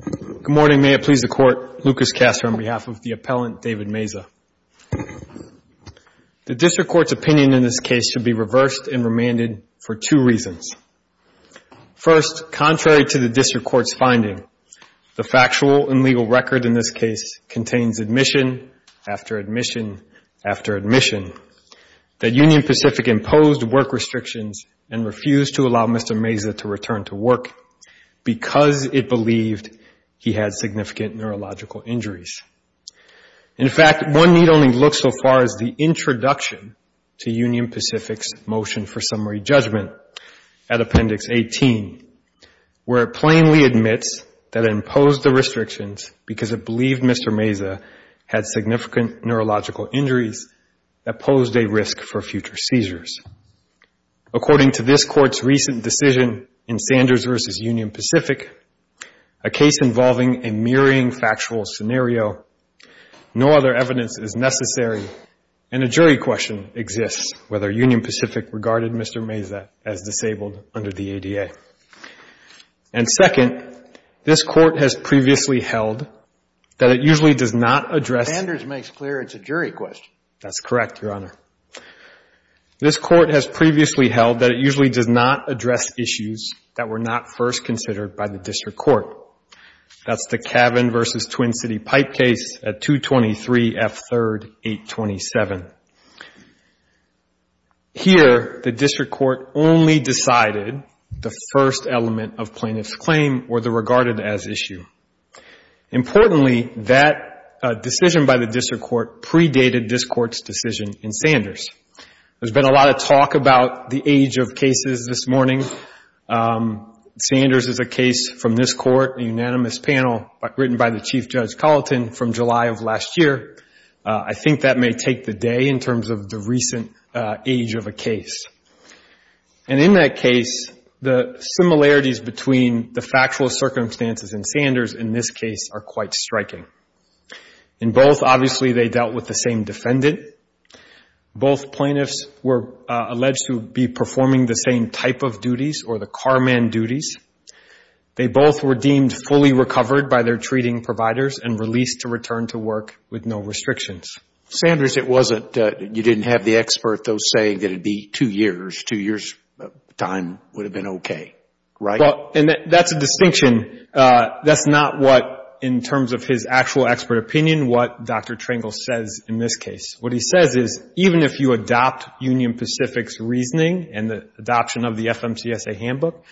Good morning. May it please the Court. Lucas Castor on behalf of the Appellant David Meza. The District Court's opinion in this case should be reversed and remanded for two reasons. First, contrary to the District Court's finding, the factual and legal record in this case contains admission after admission after admission that Union Pacific imposed work restrictions and refused to allow Mr. Meza to return to work because it believed he had significant neurological injuries. In fact, one need only look so far as the introduction to Union Pacific's motion for summary judgment at Appendix 18, where it plainly admits that it imposed the restrictions because it believed Mr. Meza had significant neurological injuries that posed a risk for future seizures. According to this Court's recent decision in Sanders v. Union Pacific, a case involving a mirroring factual scenario, no other evidence is necessary and a jury question exists whether Union Pacific regarded Mr. Meza as disabled under the ADA. And second, this Court has previously held that it usually does not address a jury question. That's correct, Your Honor. This Court has previously held that it usually does not address issues that were not first considered by the District Court. That's the Cavan v. Twin City pipe case at 223 F. 3rd, 827. Here, the District Court only decided the first element of plaintiff's claim or the regarded as issue. Importantly, that decision by the District Court predated this Court's decision in Sanders. There's been a lot of talk about the age of cases this morning. Sanders is a case from this Court, a unanimous panel written by the Chief Judge Colleton from July of last year. I think that may take the day in terms of the recent age of a case. And in that case, the similarities between the factual circumstances in Sanders in this case are quite striking. In both, obviously, they dealt with the same defendant. Both plaintiffs were alleged to be performing the same type of duties or the carman duties. They both were deemed fully recovered by their treating providers and released to return to work with no restrictions. Sanders, it wasn't, you didn't have the expert, though, saying that it would be two years. Two years' time would have been okay, right? Well, and that's a distinction. That's not what, in terms of his actual expert opinion, what Dr. Trangle says in this case. What he says is even if you adopt Union Pacific's reasoning and the adoption of the FMCSA handbook,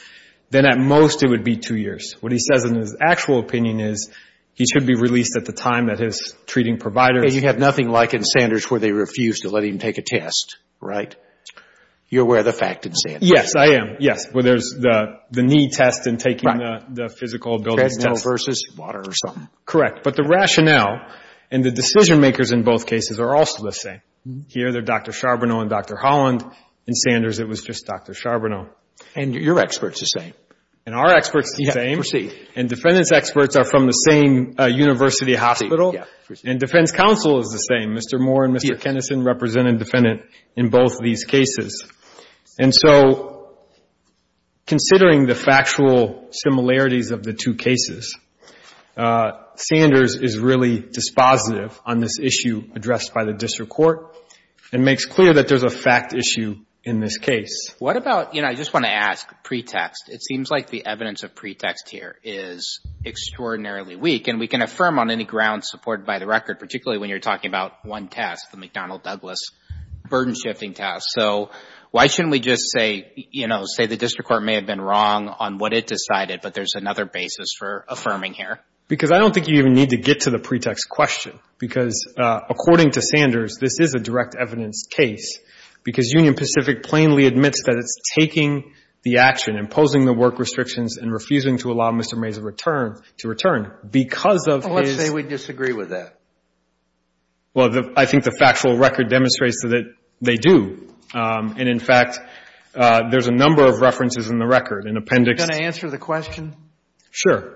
then at most it would be two years. What he says in his actual opinion is he should be released at the time that his treating providers And you have nothing like in Sanders where they refuse to let him take a test, right? You're aware of the fact in Sanders. Yes, I am. Yes, where there's the knee test and taking the physical ability test. Versus water or something. Correct. But the rationale and the decision makers in both cases are also the same. Here, they're Dr. Charbonneau and Dr. Holland. In Sanders, it was just Dr. Charbonneau. And your experts are the same. And our experts are the same. Proceed. And defendant's experts are from the same university hospital. And defense counsel is the same. Mr. Moore and Mr. Kenneson represent a defendant in both these cases. And so considering the factual similarities of the two cases, Sanders is really dispositive on this issue addressed by the district court and makes clear that there's a fact issue in this case. What about, you know, I just want to ask pretext. It seems like the evidence of pretext here is extraordinarily weak. And we can affirm on any grounds supported by the record, particularly when you're talking about one test, the McDonnell-Douglas burden shifting test. So why shouldn't we just say, you know, say the district court may have been wrong on what it decided, but there's another basis for affirming here? Because I don't think you even need to get to the pretext question. Because according to Sanders, this is a direct evidence case. Because Union Pacific plainly admits that it's taking the action, imposing the work restrictions, and refusing to allow Mr. Mays' return to return because of his. Well, let's say we disagree with that. Well, I think the factual record demonstrates that they do. And, in fact, there's a number of references in the record, an appendix. Are you going to answer the question? Sure.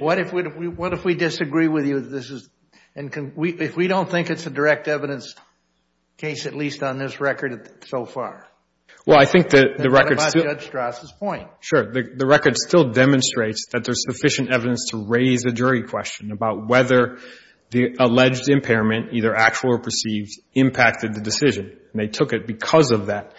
What if we disagree with you? If we don't think it's a direct evidence case, at least on this record so far? Well, I think the record. What about Judge Strass' point? Sure. The record still demonstrates that there's sufficient evidence to raise a jury question about whether the alleged impairment, either actual or perceived, impacted the decision. And they took it because of that.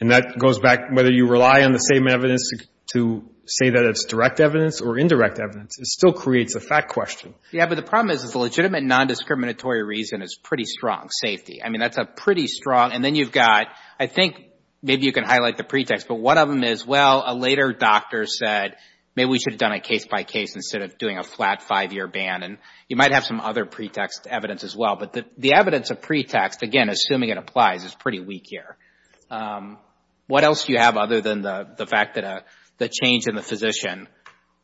And that goes back whether you rely on the same evidence to say that it's direct evidence or indirect evidence. It still creates a fact question. Yeah, but the problem is the legitimate nondiscriminatory reason is pretty strong, safety. I mean, that's a pretty strong. And then you've got, I think maybe you can highlight the pretext. But one of them is, well, a later doctor said maybe we should have done a case-by-case instead of doing a flat five-year ban. And you might have some other pretext evidence as well. But the evidence of pretext, again, assuming it applies, is pretty weak here. What else do you have other than the fact that the change in the physician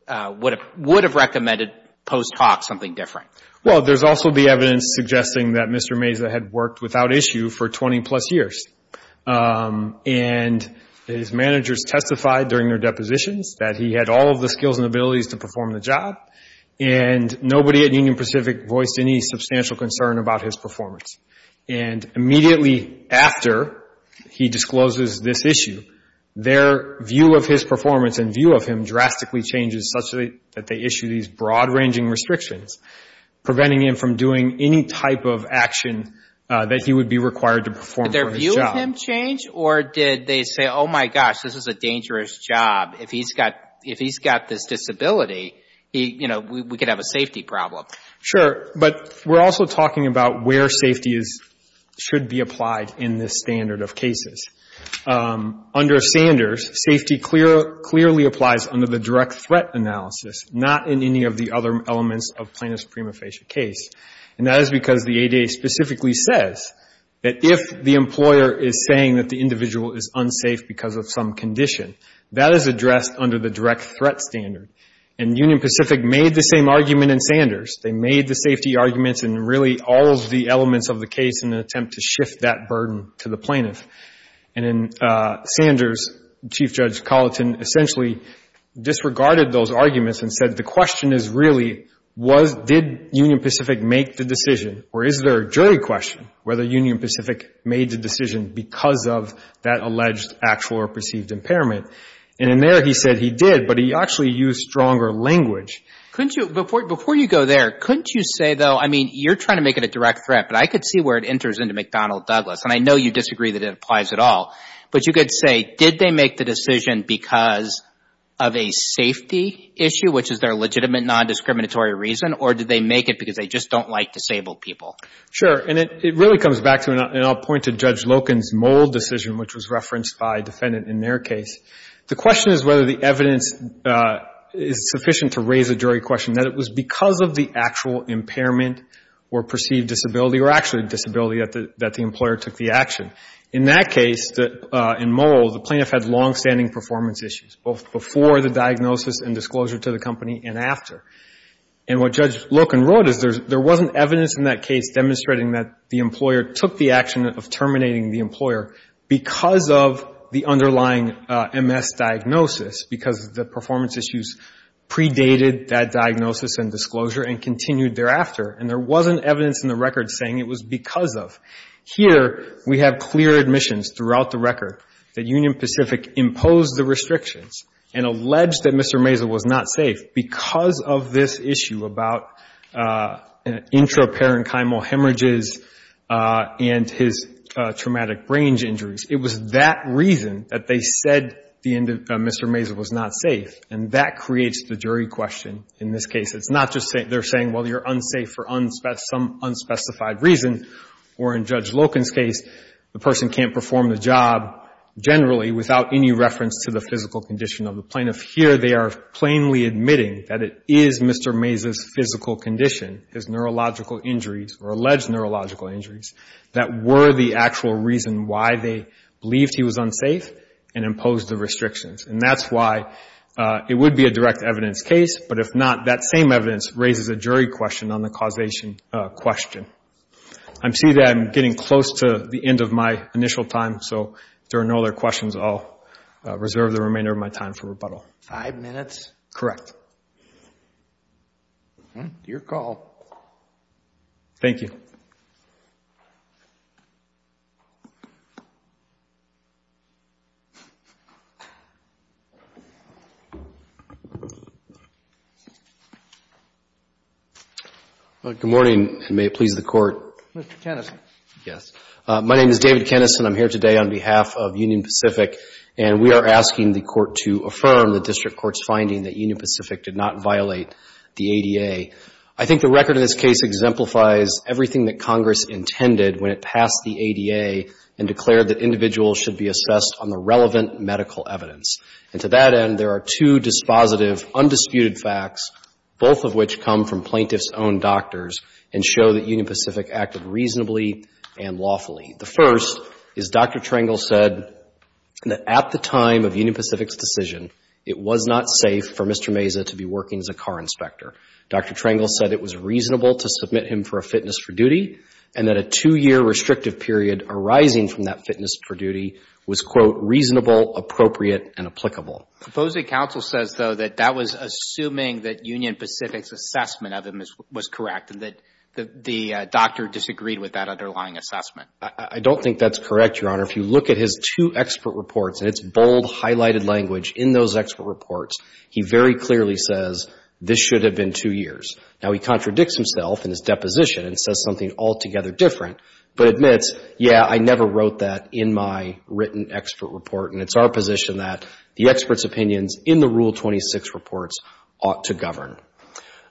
would have recommended post hoc something different? Well, there's also the evidence suggesting that Mr. Mazza had worked without issue for 20-plus years. And his managers testified during their depositions that he had all of the skills and abilities to perform the job. And nobody at Union Pacific voiced any substantial concern about his performance. And immediately after he discloses this issue, their view of his performance and view of him drastically changes such that they issue these broad-ranging restrictions, preventing him from doing any type of action that he would be required to perform for his job. Did that make them change? Or did they say, oh, my gosh, this is a dangerous job. If he's got this disability, we could have a safety problem. Sure. But we're also talking about where safety should be applied in this standard of cases. Under Sanders, safety clearly applies under the direct threat analysis, not in any of the other elements of plaintiff's prima facie case. And that is because the ADA specifically says that if the employer is saying that the individual is unsafe because of some condition, that is addressed under the direct threat standard. And Union Pacific made the same argument in Sanders. They made the safety arguments in really all of the elements of the case in an attempt to shift that burden to the plaintiff. And in Sanders, Chief Judge Colleton essentially disregarded those arguments and said the question is really did Union Pacific make the decision or is there a jury question whether Union Pacific made the decision because of that alleged, actual, or perceived impairment. And in there he said he did, but he actually used stronger language. Before you go there, couldn't you say, though, I mean, you're trying to make it a direct threat, but I could see where it enters into McDonnell Douglas. And I know you disagree that it applies at all. But you could say did they make the decision because of a safety issue, which is their legitimate nondiscriminatory reason, or did they make it because they just don't like disabled people? And it really comes back to, and I'll point to Judge Loken's Mold decision, which was referenced by a defendant in their case. The question is whether the evidence is sufficient to raise a jury question, that it was because of the actual impairment or perceived disability or actually a disability that the employer took the action. In that case, in Mold, the plaintiff had longstanding performance issues, both before the diagnosis and disclosure to the company and after. And what Judge Loken wrote is there wasn't evidence in that case demonstrating that the employer took the action of terminating the employer because of the underlying MS diagnosis, because the performance issues predated that diagnosis and disclosure and continued thereafter. And there wasn't evidence in the record saying it was because of. Here, we have clear admissions throughout the record that Union Pacific imposed the restrictions and alleged that Mr. Maisel was not safe because of this issue about intraparenchymal hemorrhages and his traumatic range injuries. It was that reason that they said Mr. Maisel was not safe, and that creates the jury question in this case. It's not just they're saying, well, you're unsafe for some unspecified reason. Or in Judge Loken's case, the person can't perform the job generally without any reference to the physical condition of the plaintiff. Here, they are plainly admitting that it is Mr. Maisel's physical condition, his neurological injuries or alleged neurological injuries, that were the actual reason why they believed he was unsafe and imposed the restrictions. And that's why it would be a direct evidence case. But if not, that same evidence raises a jury question on the causation question. I see that I'm getting close to the end of my initial time, so if there are no other questions, I'll reserve the remainder of my time for rebuttal. Five minutes? Correct. Your call. Thank you. Good morning, and may it please the Court. Mr. Keneson. Yes. My name is David Keneson. I'm here today on behalf of Union Pacific, and we are asking the Court to affirm the district court's finding that Union Pacific did not violate the ADA. I think the record in this case exemplifies everything that Congress intended when it passed the ADA and declared that individuals should be assessed on the relevant medical evidence. And to that end, there are two dispositive, undisputed facts, both of which come from plaintiff's own doctors and show that Union Pacific acted reasonably and lawfully. The first is Dr. Trengel said that at the time of Union Pacific's decision, it was not safe for Mr. Meza to be working as a car inspector. Dr. Trengel said it was reasonable to submit him for a fitness for duty and that a two-year restrictive period arising from that fitness for duty was, quote, reasonable, appropriate, and applicable. Proposing counsel says, though, that that was assuming that Union Pacific's assessment of him was correct and that the doctor disagreed with that underlying assessment. I don't think that's correct, Your Honor. If you look at his two expert reports and its bold, highlighted language in those expert reports, he very clearly says this should have been two years. Now, he contradicts himself in his deposition and says something altogether different, but admits, yeah, I never wrote that in my written expert report, and it's our position that the expert's opinions in the Rule 26 reports ought to govern.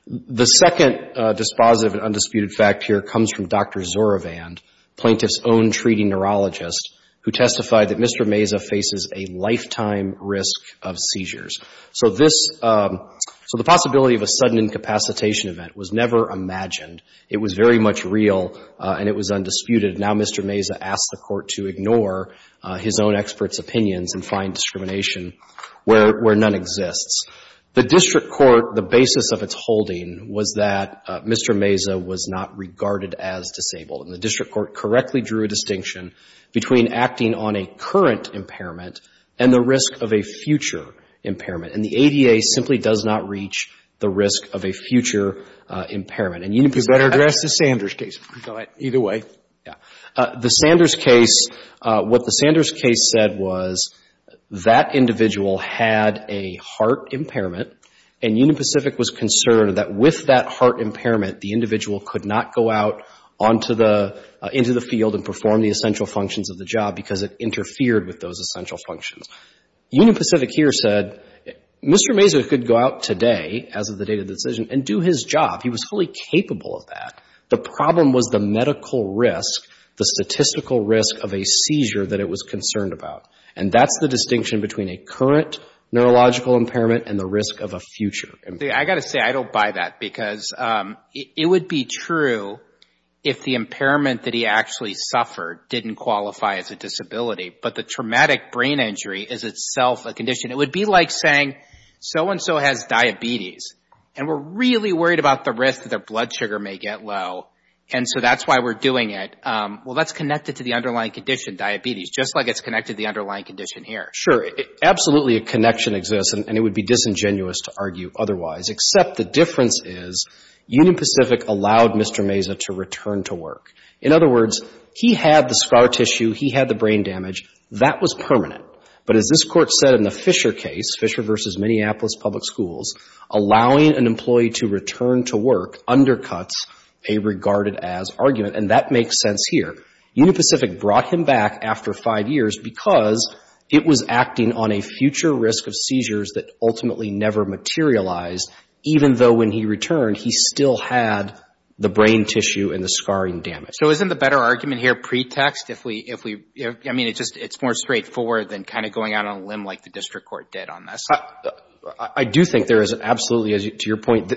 The second dispositive and undisputed fact here comes from Dr. Zorovand, plaintiff's own treating neurologist, who testified that Mr. Meza faces a lifetime risk of seizures. So this — so the possibility of a sudden incapacitation event was never imagined. It was very much real, and it was undisputed. Now Mr. Meza asked the Court to ignore his own expert's opinions and find discrimination where none exists. The district court, the basis of its holding was that Mr. Meza was not regarded as disabled, and the district court correctly drew a distinction between acting on a current impairment and the risk of a future impairment. And the ADA simply does not reach the risk of a future impairment. And Union Pacific — You better address the Sanders case. Either way. Yeah. The Sanders case, what the Sanders case said was that individual had a heart impairment, and Union Pacific was concerned that with that heart impairment, the individual could not go out into the field and perform the essential functions of the job because it interfered with those essential functions. Union Pacific here said Mr. Meza could go out today, as of the date of the decision, and do his job. He was fully capable of that. The problem was the medical risk, the statistical risk of a seizure that it was concerned about. And that's the distinction between a current neurological impairment and the risk of a future impairment. I've got to say I don't buy that because it would be true if the impairment that he actually suffered didn't qualify as a disability, but the traumatic brain injury is itself a condition. It would be like saying so-and-so has diabetes, and we're really worried about the risk that their blood sugar may get low, and so that's why we're doing it. Well, that's connected to the underlying condition, diabetes, just like it's connected to the underlying condition here. Sure. Absolutely, a connection exists, and it would be disingenuous to argue otherwise, except the difference is Union Pacific allowed Mr. Meza to return to work. In other words, he had the scar tissue, he had the brain damage. That was permanent. But as this Court said in the Fisher case, Fisher v. Minneapolis Public Schools, allowing an employee to return to work undercuts a regarded-as argument, and that makes sense here. Union Pacific brought him back after five years because it was acting on a future risk of seizures that ultimately never materialized, even though when he returned, he still had the brain tissue and the scarring damage. So isn't the better argument here pretext? I mean, it's more straightforward than kind of going out on a limb like the district court did on this. I do think there is absolutely, to your point,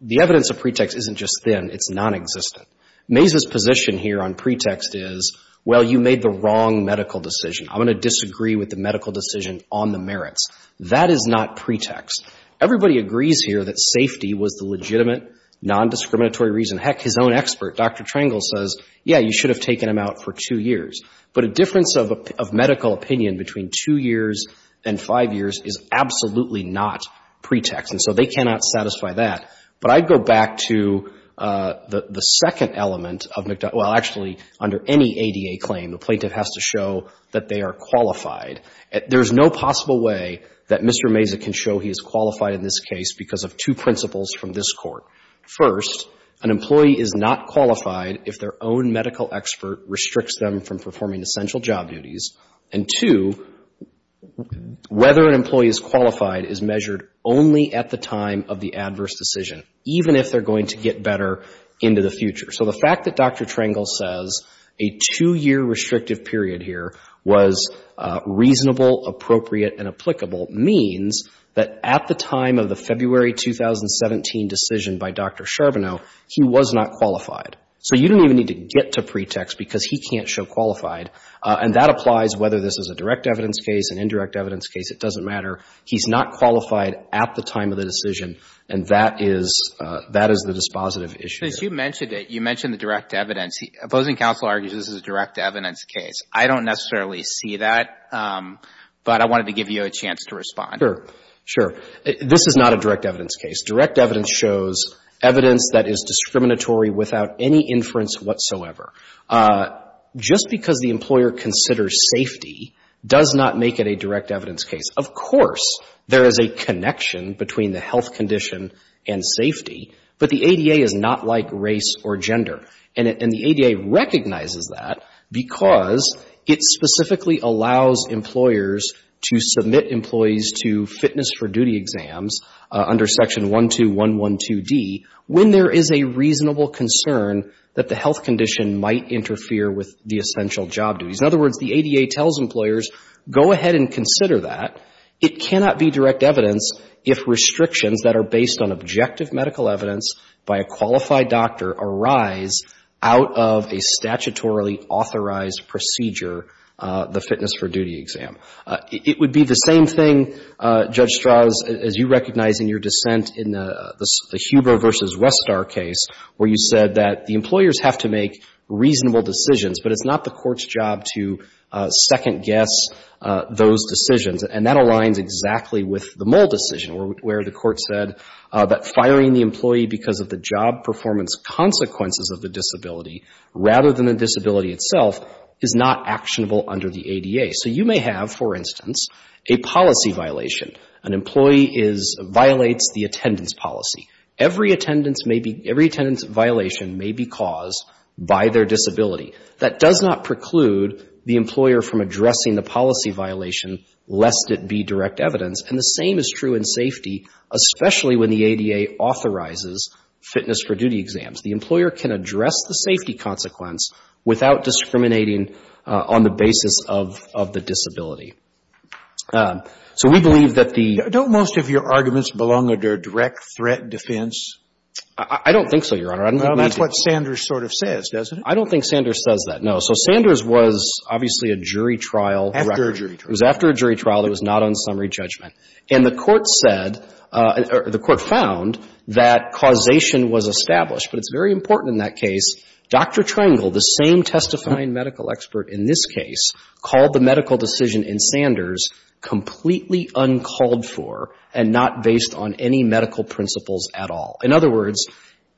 the evidence of pretext isn't just thin. It's nonexistent. Meza's position here on pretext is, well, you made the wrong medical decision. I'm going to disagree with the medical decision on the merits. That is not pretext. Everybody agrees here that safety was the legitimate, nondiscriminatory reason. Heck, his own expert, Dr. Trangel, says, yeah, you should have taken him out for two years. But a difference of medical opinion between two years and five years is absolutely not pretext, and so they cannot satisfy that. But I'd go back to the second element of McDonough. Well, actually, under any ADA claim, the plaintiff has to show that they are qualified. There is no possible way that Mr. Meza can show he is qualified in this case because of two principles from this Court. First, an employee is not qualified if their own medical expert restricts them from performing essential job duties. And two, whether an employee is qualified is measured only at the time of the adverse decision, even if they're going to get better into the future. So the fact that Dr. Trangel says a two-year restrictive period here was reasonable, appropriate, and applicable means that at the time of the February 2017 decision by Dr. Charbonneau, he was not qualified. So you don't even need to get to pretext because he can't show qualified. And that applies whether this is a direct evidence case, an indirect evidence case, it doesn't matter. He's not qualified at the time of the decision, and that is the dispositive issue. Since you mentioned it, you mentioned the direct evidence. Opposing counsel argues this is a direct evidence case. I don't necessarily see that, but I wanted to give you a chance to respond. Sure. Sure. This is not a direct evidence case. Direct evidence shows evidence that is discriminatory without any inference whatsoever. Just because the employer considers safety does not make it a direct evidence case. Of course there is a connection between the health condition and safety, but the ADA is not like race or gender. And the ADA recognizes that because it specifically allows employers to submit employees to fitness for duty exams under Section 12112D when there is a reasonable concern that the health condition might interfere with the essential job duties. In other words, the ADA tells employers, go ahead and consider that. It cannot be direct evidence if restrictions that are based on objective medical evidence by a qualified doctor arise out of a statutorily authorized procedure, the fitness for duty exam. It would be the same thing, Judge Strauss, as you recognize in your dissent in the Huber v. Westar case where you said that the employers have to make reasonable decisions, but it's not the court's job to second guess those decisions. And that aligns exactly with the Moll decision where the court said that firing the employee because of the job performance consequences of the disability rather than the disability itself is not actionable under the ADA. So you may have, for instance, a policy violation. An employee is — violates the attendance policy. Every attendance violation may be caused by their disability. That does not preclude the employer from addressing the policy violation, lest it be direct evidence. And the same is true in safety, especially when the ADA authorizes fitness for duty exams. The employer can address the safety consequence without discriminating on the basis of the disability. So we believe that the — Do the judgments belong under direct threat defense? I don't think so, Your Honor. That's what Sanders sort of says, doesn't it? I don't think Sanders says that, no. So Sanders was obviously a jury trial director. After a jury trial. It was after a jury trial. It was not on summary judgment. And the Court said — or the Court found that causation was established. But it's very important in that case. Dr. Trengel, the same testifying medical expert in this case, called the medical decision in Sanders completely uncalled for and not based on any medical principles at all. In other words,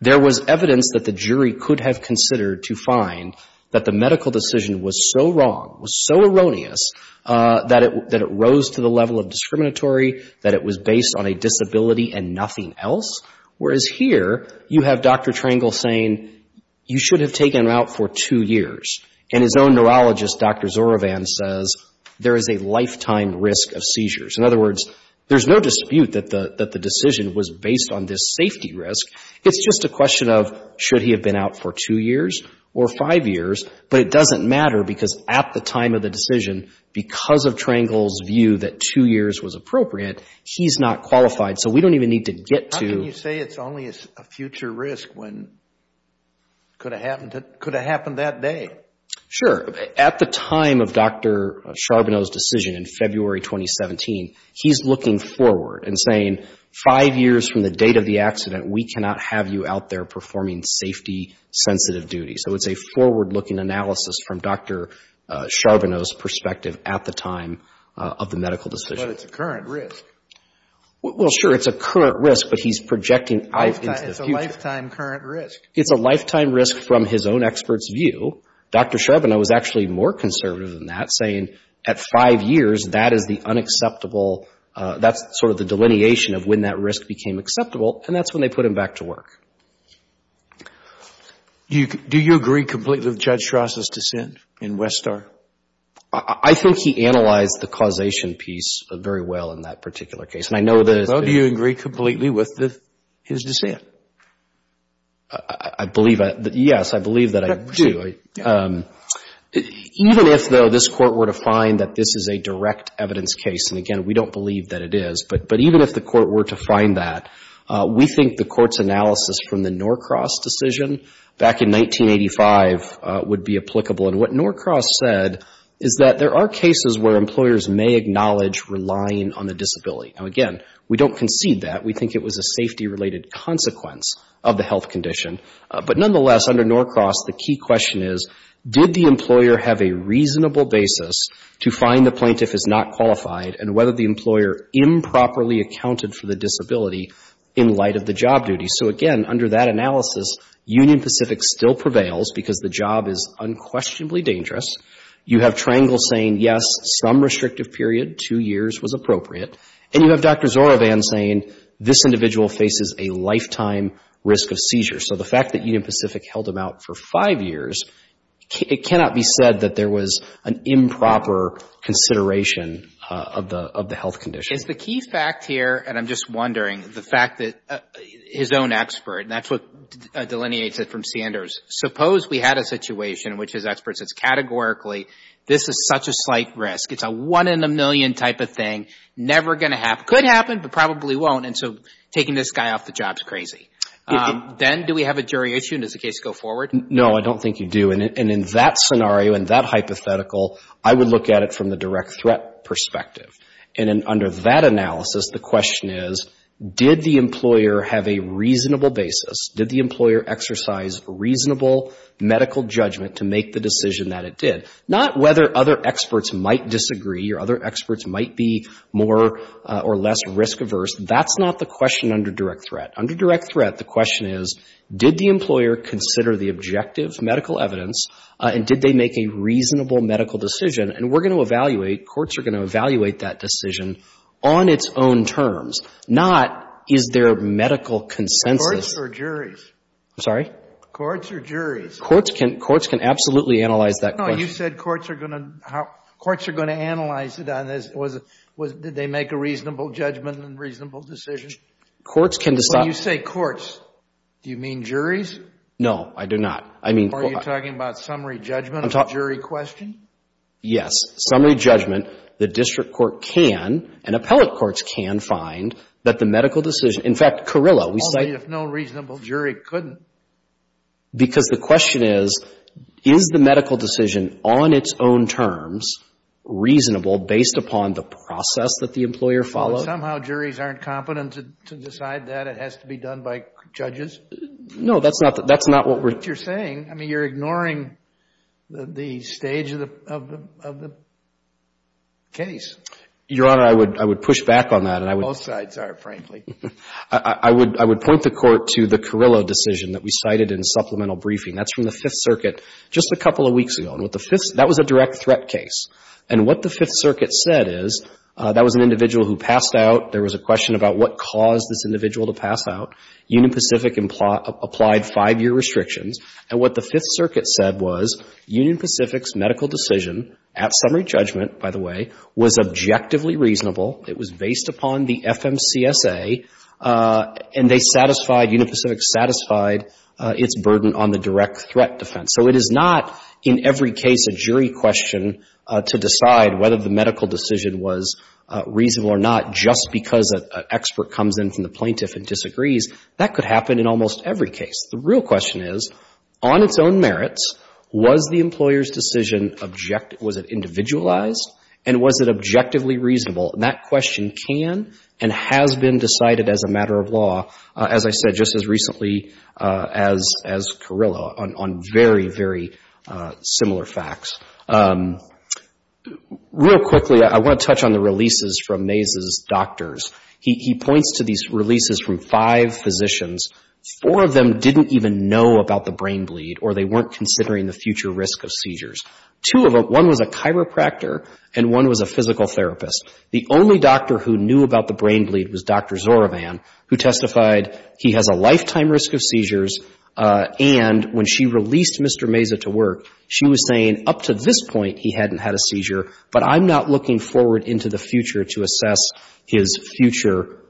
there was evidence that the jury could have considered to find that the medical decision was so wrong, was so erroneous, that it rose to the level of discriminatory, that it was based on a disability and nothing else. Whereas here, you have Dr. Trengel saying you should have taken him out for two years. And his own neurologist, Dr. Zorovan, says there is a lifetime risk of seizures. In other words, there's no dispute that the decision was based on this safety risk. It's just a question of should he have been out for two years or five years. But it doesn't matter because at the time of the decision, because of Trengel's view that two years was appropriate, he's not qualified. So we don't even need to get to — How can you say it's only a future risk when it could have happened that day? Sure. At the time of Dr. Charbonneau's decision in February 2017, he's looking forward and saying five years from the date of the accident, we cannot have you out there performing safety-sensitive duties. So it's a forward-looking analysis from Dr. Charbonneau's perspective at the time of the medical decision. But it's a current risk. Well, sure. It's a current risk, but he's projecting into the future. It's a lifetime current risk. It's a lifetime risk from his own expert's view. Dr. Charbonneau was actually more conservative than that, saying at five years, that is the unacceptable — that's sort of the delineation of when that risk became acceptable, and that's when they put him back to work. Do you agree completely with Judge Schrasser's dissent in Westar? I think he analyzed the causation piece very well in that particular case, and I know that — So do you agree completely with his dissent? I believe — yes, I believe that I do. Even if, though, this Court were to find that this is a direct evidence case, and again, we don't believe that it is, but even if the Court were to find that, we think the Court's analysis from the Norcross decision back in 1985 would be applicable. And what Norcross said is that there are cases where employers may acknowledge relying on a disability. Now, again, we don't concede that. We think it was a safety-related consequence of the health condition. But nonetheless, under Norcross, the key question is, did the employer have a reasonable basis to find the plaintiff is not qualified and whether the employer improperly accounted for the disability in light of the job duty? So again, under that analysis, Union Pacific still prevails because the job is unquestionably dangerous. You have Triangle saying, yes, some restrictive period, two years, was appropriate, and you have Dr. Zorovan saying, this individual faces a lifetime risk of seizure. So the fact that Union Pacific held him out for five years, it cannot be said that there was an improper consideration of the health condition. Is the key fact here, and I'm just wondering, the fact that his own expert, and that's what delineates it from Sanders, suppose we had a situation in which his experts said categorically, this is such a slight risk. It's a one in a million type of thing. Never going to happen. Could happen, but probably won't. And so taking this guy off the job is crazy. Then do we have a jury issue, and does the case go forward? No, I don't think you do. And in that scenario, in that hypothetical, I would look at it from the direct threat perspective. And under that analysis, the question is, did the employer have a reasonable basis? Did the employer exercise reasonable medical judgment to make the decision that it did? Not whether other experts might disagree or other experts might be more or less risk-averse. That's not the question under direct threat. Under direct threat, the question is, did the employer consider the objective medical evidence, and did they make a reasonable medical decision? And we're going to evaluate, courts are going to evaluate that decision on its own terms, not is there medical consensus. Courts or juries? I'm sorry? Courts or juries? Courts can absolutely analyze that question. No, you said courts are going to analyze it on this. Did they make a reasonable judgment and reasonable decision? Courts can decide. When you say courts, do you mean juries? No, I do not. Are you talking about summary judgment or jury question? Yes, summary judgment. The district court can, and appellate courts can, find that the medical decision, in fact, Carrillo, we say- Only if no reasonable jury couldn't. Because the question is, is the medical decision on its own terms reasonable based upon the process that the employer followed? Somehow juries aren't competent to decide that. It has to be done by judges. No, that's not what we're- That's not what you're saying. I mean, you're ignoring the stage of the case. Your Honor, I would push back on that. Both sides are, frankly. I would point the Court to the Carrillo decision that we cited in supplemental briefing. That's from the Fifth Circuit just a couple of weeks ago. That was a direct threat case. And what the Fifth Circuit said is, that was an individual who passed out. There was a question about what caused this individual to pass out. Union Pacific applied five-year restrictions. And what the Fifth Circuit said was, Union Pacific's medical decision, at summary judgment, by the way, was objectively reasonable. It was based upon the FMCSA. And they satisfied, Union Pacific satisfied its burden on the direct threat defense. So it is not, in every case, a jury question to decide whether the medical decision was reasonable or not just because an expert comes in from the plaintiff and disagrees. That could happen in almost every case. The real question is, on its own merits, was the employer's decision objective and was it individualized and was it objectively reasonable? And that question can and has been decided as a matter of law, as I said just as recently as Carrillo, on very, very similar facts. Real quickly, I want to touch on the releases from Mays' doctors. He points to these releases from five physicians. Four of them didn't even know about the brain bleed or they weren't considering the future risk of seizures. Two of them, one was a chiropractor and one was a physical therapist. The only doctor who knew about the brain bleed was Dr. Zorovan, who testified he has a lifetime risk of seizures. And when she released Mr. Mays to work, she was saying up to this point he hadn't had a seizure, but I'm not looking forward into the future to assess his future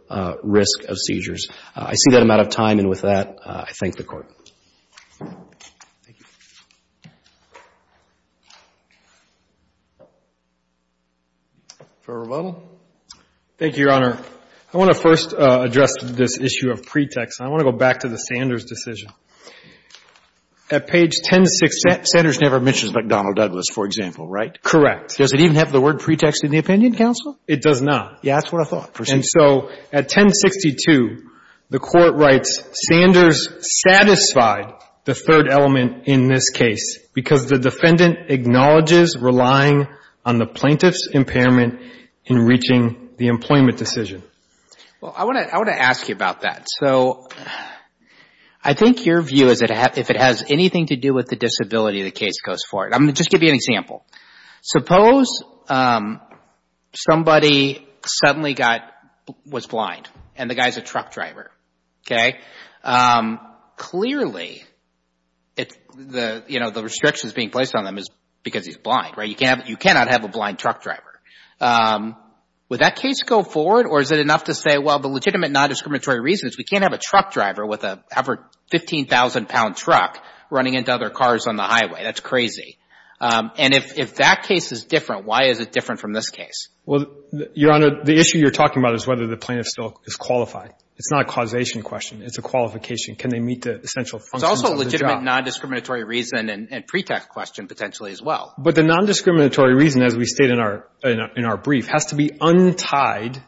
risk of seizures. I see that I'm out of time. And with that, I thank the Court. Thank you. Fair rebuttal. Thank you, Your Honor. I want to first address this issue of pretext. I want to go back to the Sanders decision. At page 1066, Sanders never mentions McDonnell Douglas, for example, right? Correct. Does it even have the word pretext in the opinion, counsel? It does not. Yeah, that's what I thought. And so at 1062, the Court writes, Sanders satisfied the third element in this case because the defendant acknowledges relying on the plaintiff's impairment in reaching the employment decision. Well, I want to ask you about that. So I think your view is that if it has anything to do with the disability, the case goes forward. I'm going to just give you an example. Suppose somebody suddenly was blind and the guy is a truck driver. Clearly, the restrictions being placed on them is because he's blind, right? You cannot have a blind truck driver. Would that case go forward or is it enough to say, well, the legitimate non-discriminatory reason is we can't have a truck driver with a 15,000-pound truck running into other cars on the highway. That's crazy. And if that case is different, why is it different from this case? Well, Your Honor, the issue you're talking about is whether the plaintiff still is qualified. It's not a causation question. It's a qualification. Can they meet the essential functions of the job? It's also a legitimate non-discriminatory reason and pretext question, potentially, as well. But the non-discriminatory reason, as we state in our brief, has to be untied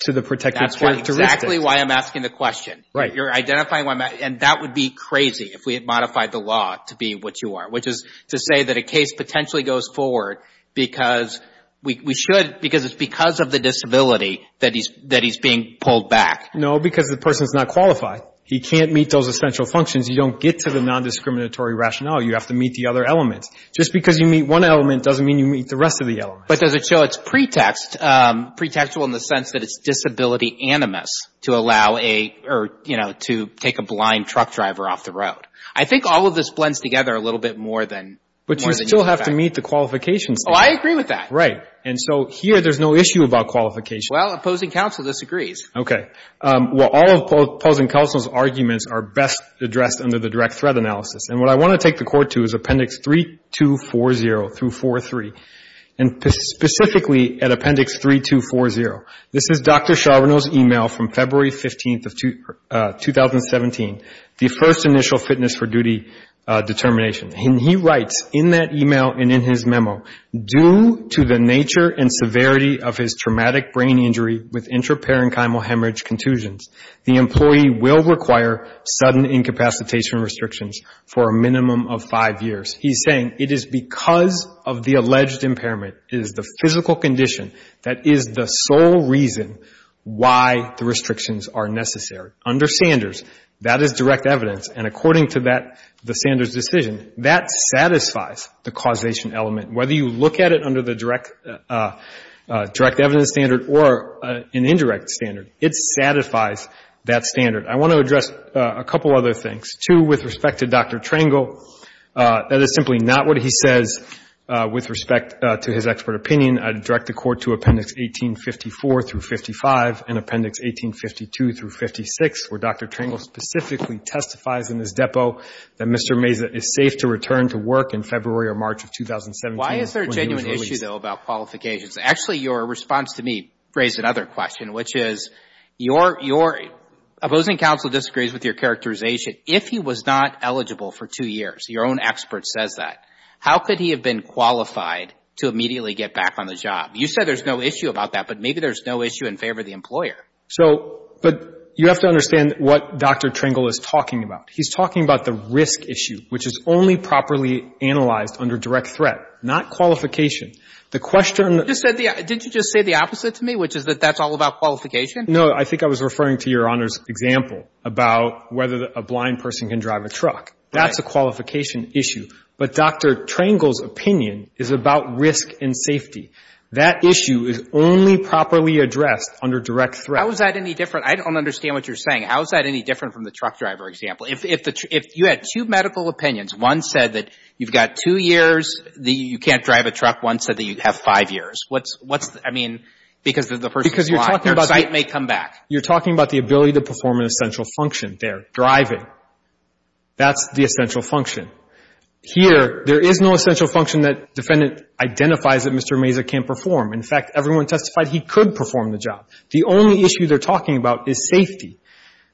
to the protective characteristics. That's exactly why I'm asking the question. Right. You're identifying why I'm asking. And that would be crazy if we had modified the law to be what you are, which is to say that a case potentially goes forward because we should, because it's because of the disability that he's being pulled back. No, because the person is not qualified. He can't meet those essential functions. You don't get to the non-discriminatory rationale. You have to meet the other elements. Just because you meet one element doesn't mean you meet the rest of the elements. But does it show it's pretext, pretextual in the sense that it's disability animus to allow a, or, you know, to take a blind truck driver off the road? I think all of this blends together a little bit more than you would expect. But you still have to meet the qualifications. Oh, I agree with that. Right. And so here there's no issue about qualifications. Well, opposing counsel disagrees. Okay. Well, all of opposing counsel's arguments are best addressed under the direct threat analysis. And what I want to take the Court to is Appendix 3240 through 43, and specifically at Appendix 3240. This is Dr. Charbonneau's email from February 15th of 2017, the first initial fitness for duty determination. And he writes in that email and in his memo, due to the nature and severity of his traumatic brain injury with intraparenchymal hemorrhage contusions, the employee will require sudden incapacitation restrictions for a minimum of five years. He's saying it is because of the alleged impairment, it is the physical condition that is the sole reason why the restrictions are necessary. Under Sanders, that is direct evidence. And according to that, the Sanders decision, that satisfies the causation element. Whether you look at it under the direct evidence standard or an indirect standard, it satisfies that standard. I want to address a couple other things. Appendix 2, with respect to Dr. Trangle, that is simply not what he says with respect to his expert opinion. I'd direct the Court to Appendix 1854 through 55 and Appendix 1852 through 56, where Dr. Trangle specifically testifies in his depot that Mr. Meza is safe to return to work in February or March of 2017. Why is there a genuine issue, though, about qualifications? Actually, your response to me raised another question, which is your opposing counsel disagrees with your characterization. If he was not eligible for two years, your own expert says that, how could he have been qualified to immediately get back on the job? You said there's no issue about that, but maybe there's no issue in favor of the employer. So, but you have to understand what Dr. Trangle is talking about. He's talking about the risk issue, which is only properly analyzed under direct threat, not qualification. The question — Didn't you just say the opposite to me, which is that that's all about qualification? No, I think I was referring to your Honor's example about whether a blind person can drive a truck. That's a qualification issue. But Dr. Trangle's opinion is about risk and safety. That issue is only properly addressed under direct threat. How is that any different? I don't understand what you're saying. How is that any different from the truck driver example? If you had two medical opinions, one said that you've got two years, you can't drive a truck. One said that you have five years. What's — I mean, because the person is blind, their sight may come back. You're talking about the ability to perform an essential function there, driving. That's the essential function. Here, there is no essential function that defendant identifies that Mr. Mazur can't perform. In fact, everyone testified he could perform the job. The only issue they're talking about is safety.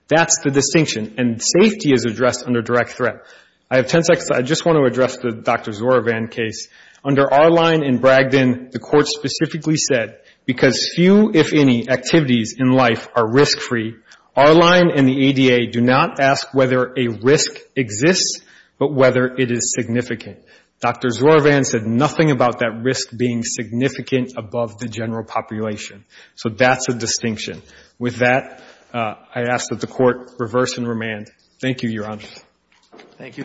That's the distinction. And safety is addressed under direct threat. I have ten seconds. I just want to address the Dr. Zorovan case. Under our line in Bragdon, the Court specifically said, because few, if any, activities in life are risk-free, our line and the ADA do not ask whether a risk exists, but whether it is significant. Dr. Zorovan said nothing about that risk being significant above the general population. So that's a distinction. With that, I ask that the Court reverse and remand. Thank you, Your Honor. Thank you.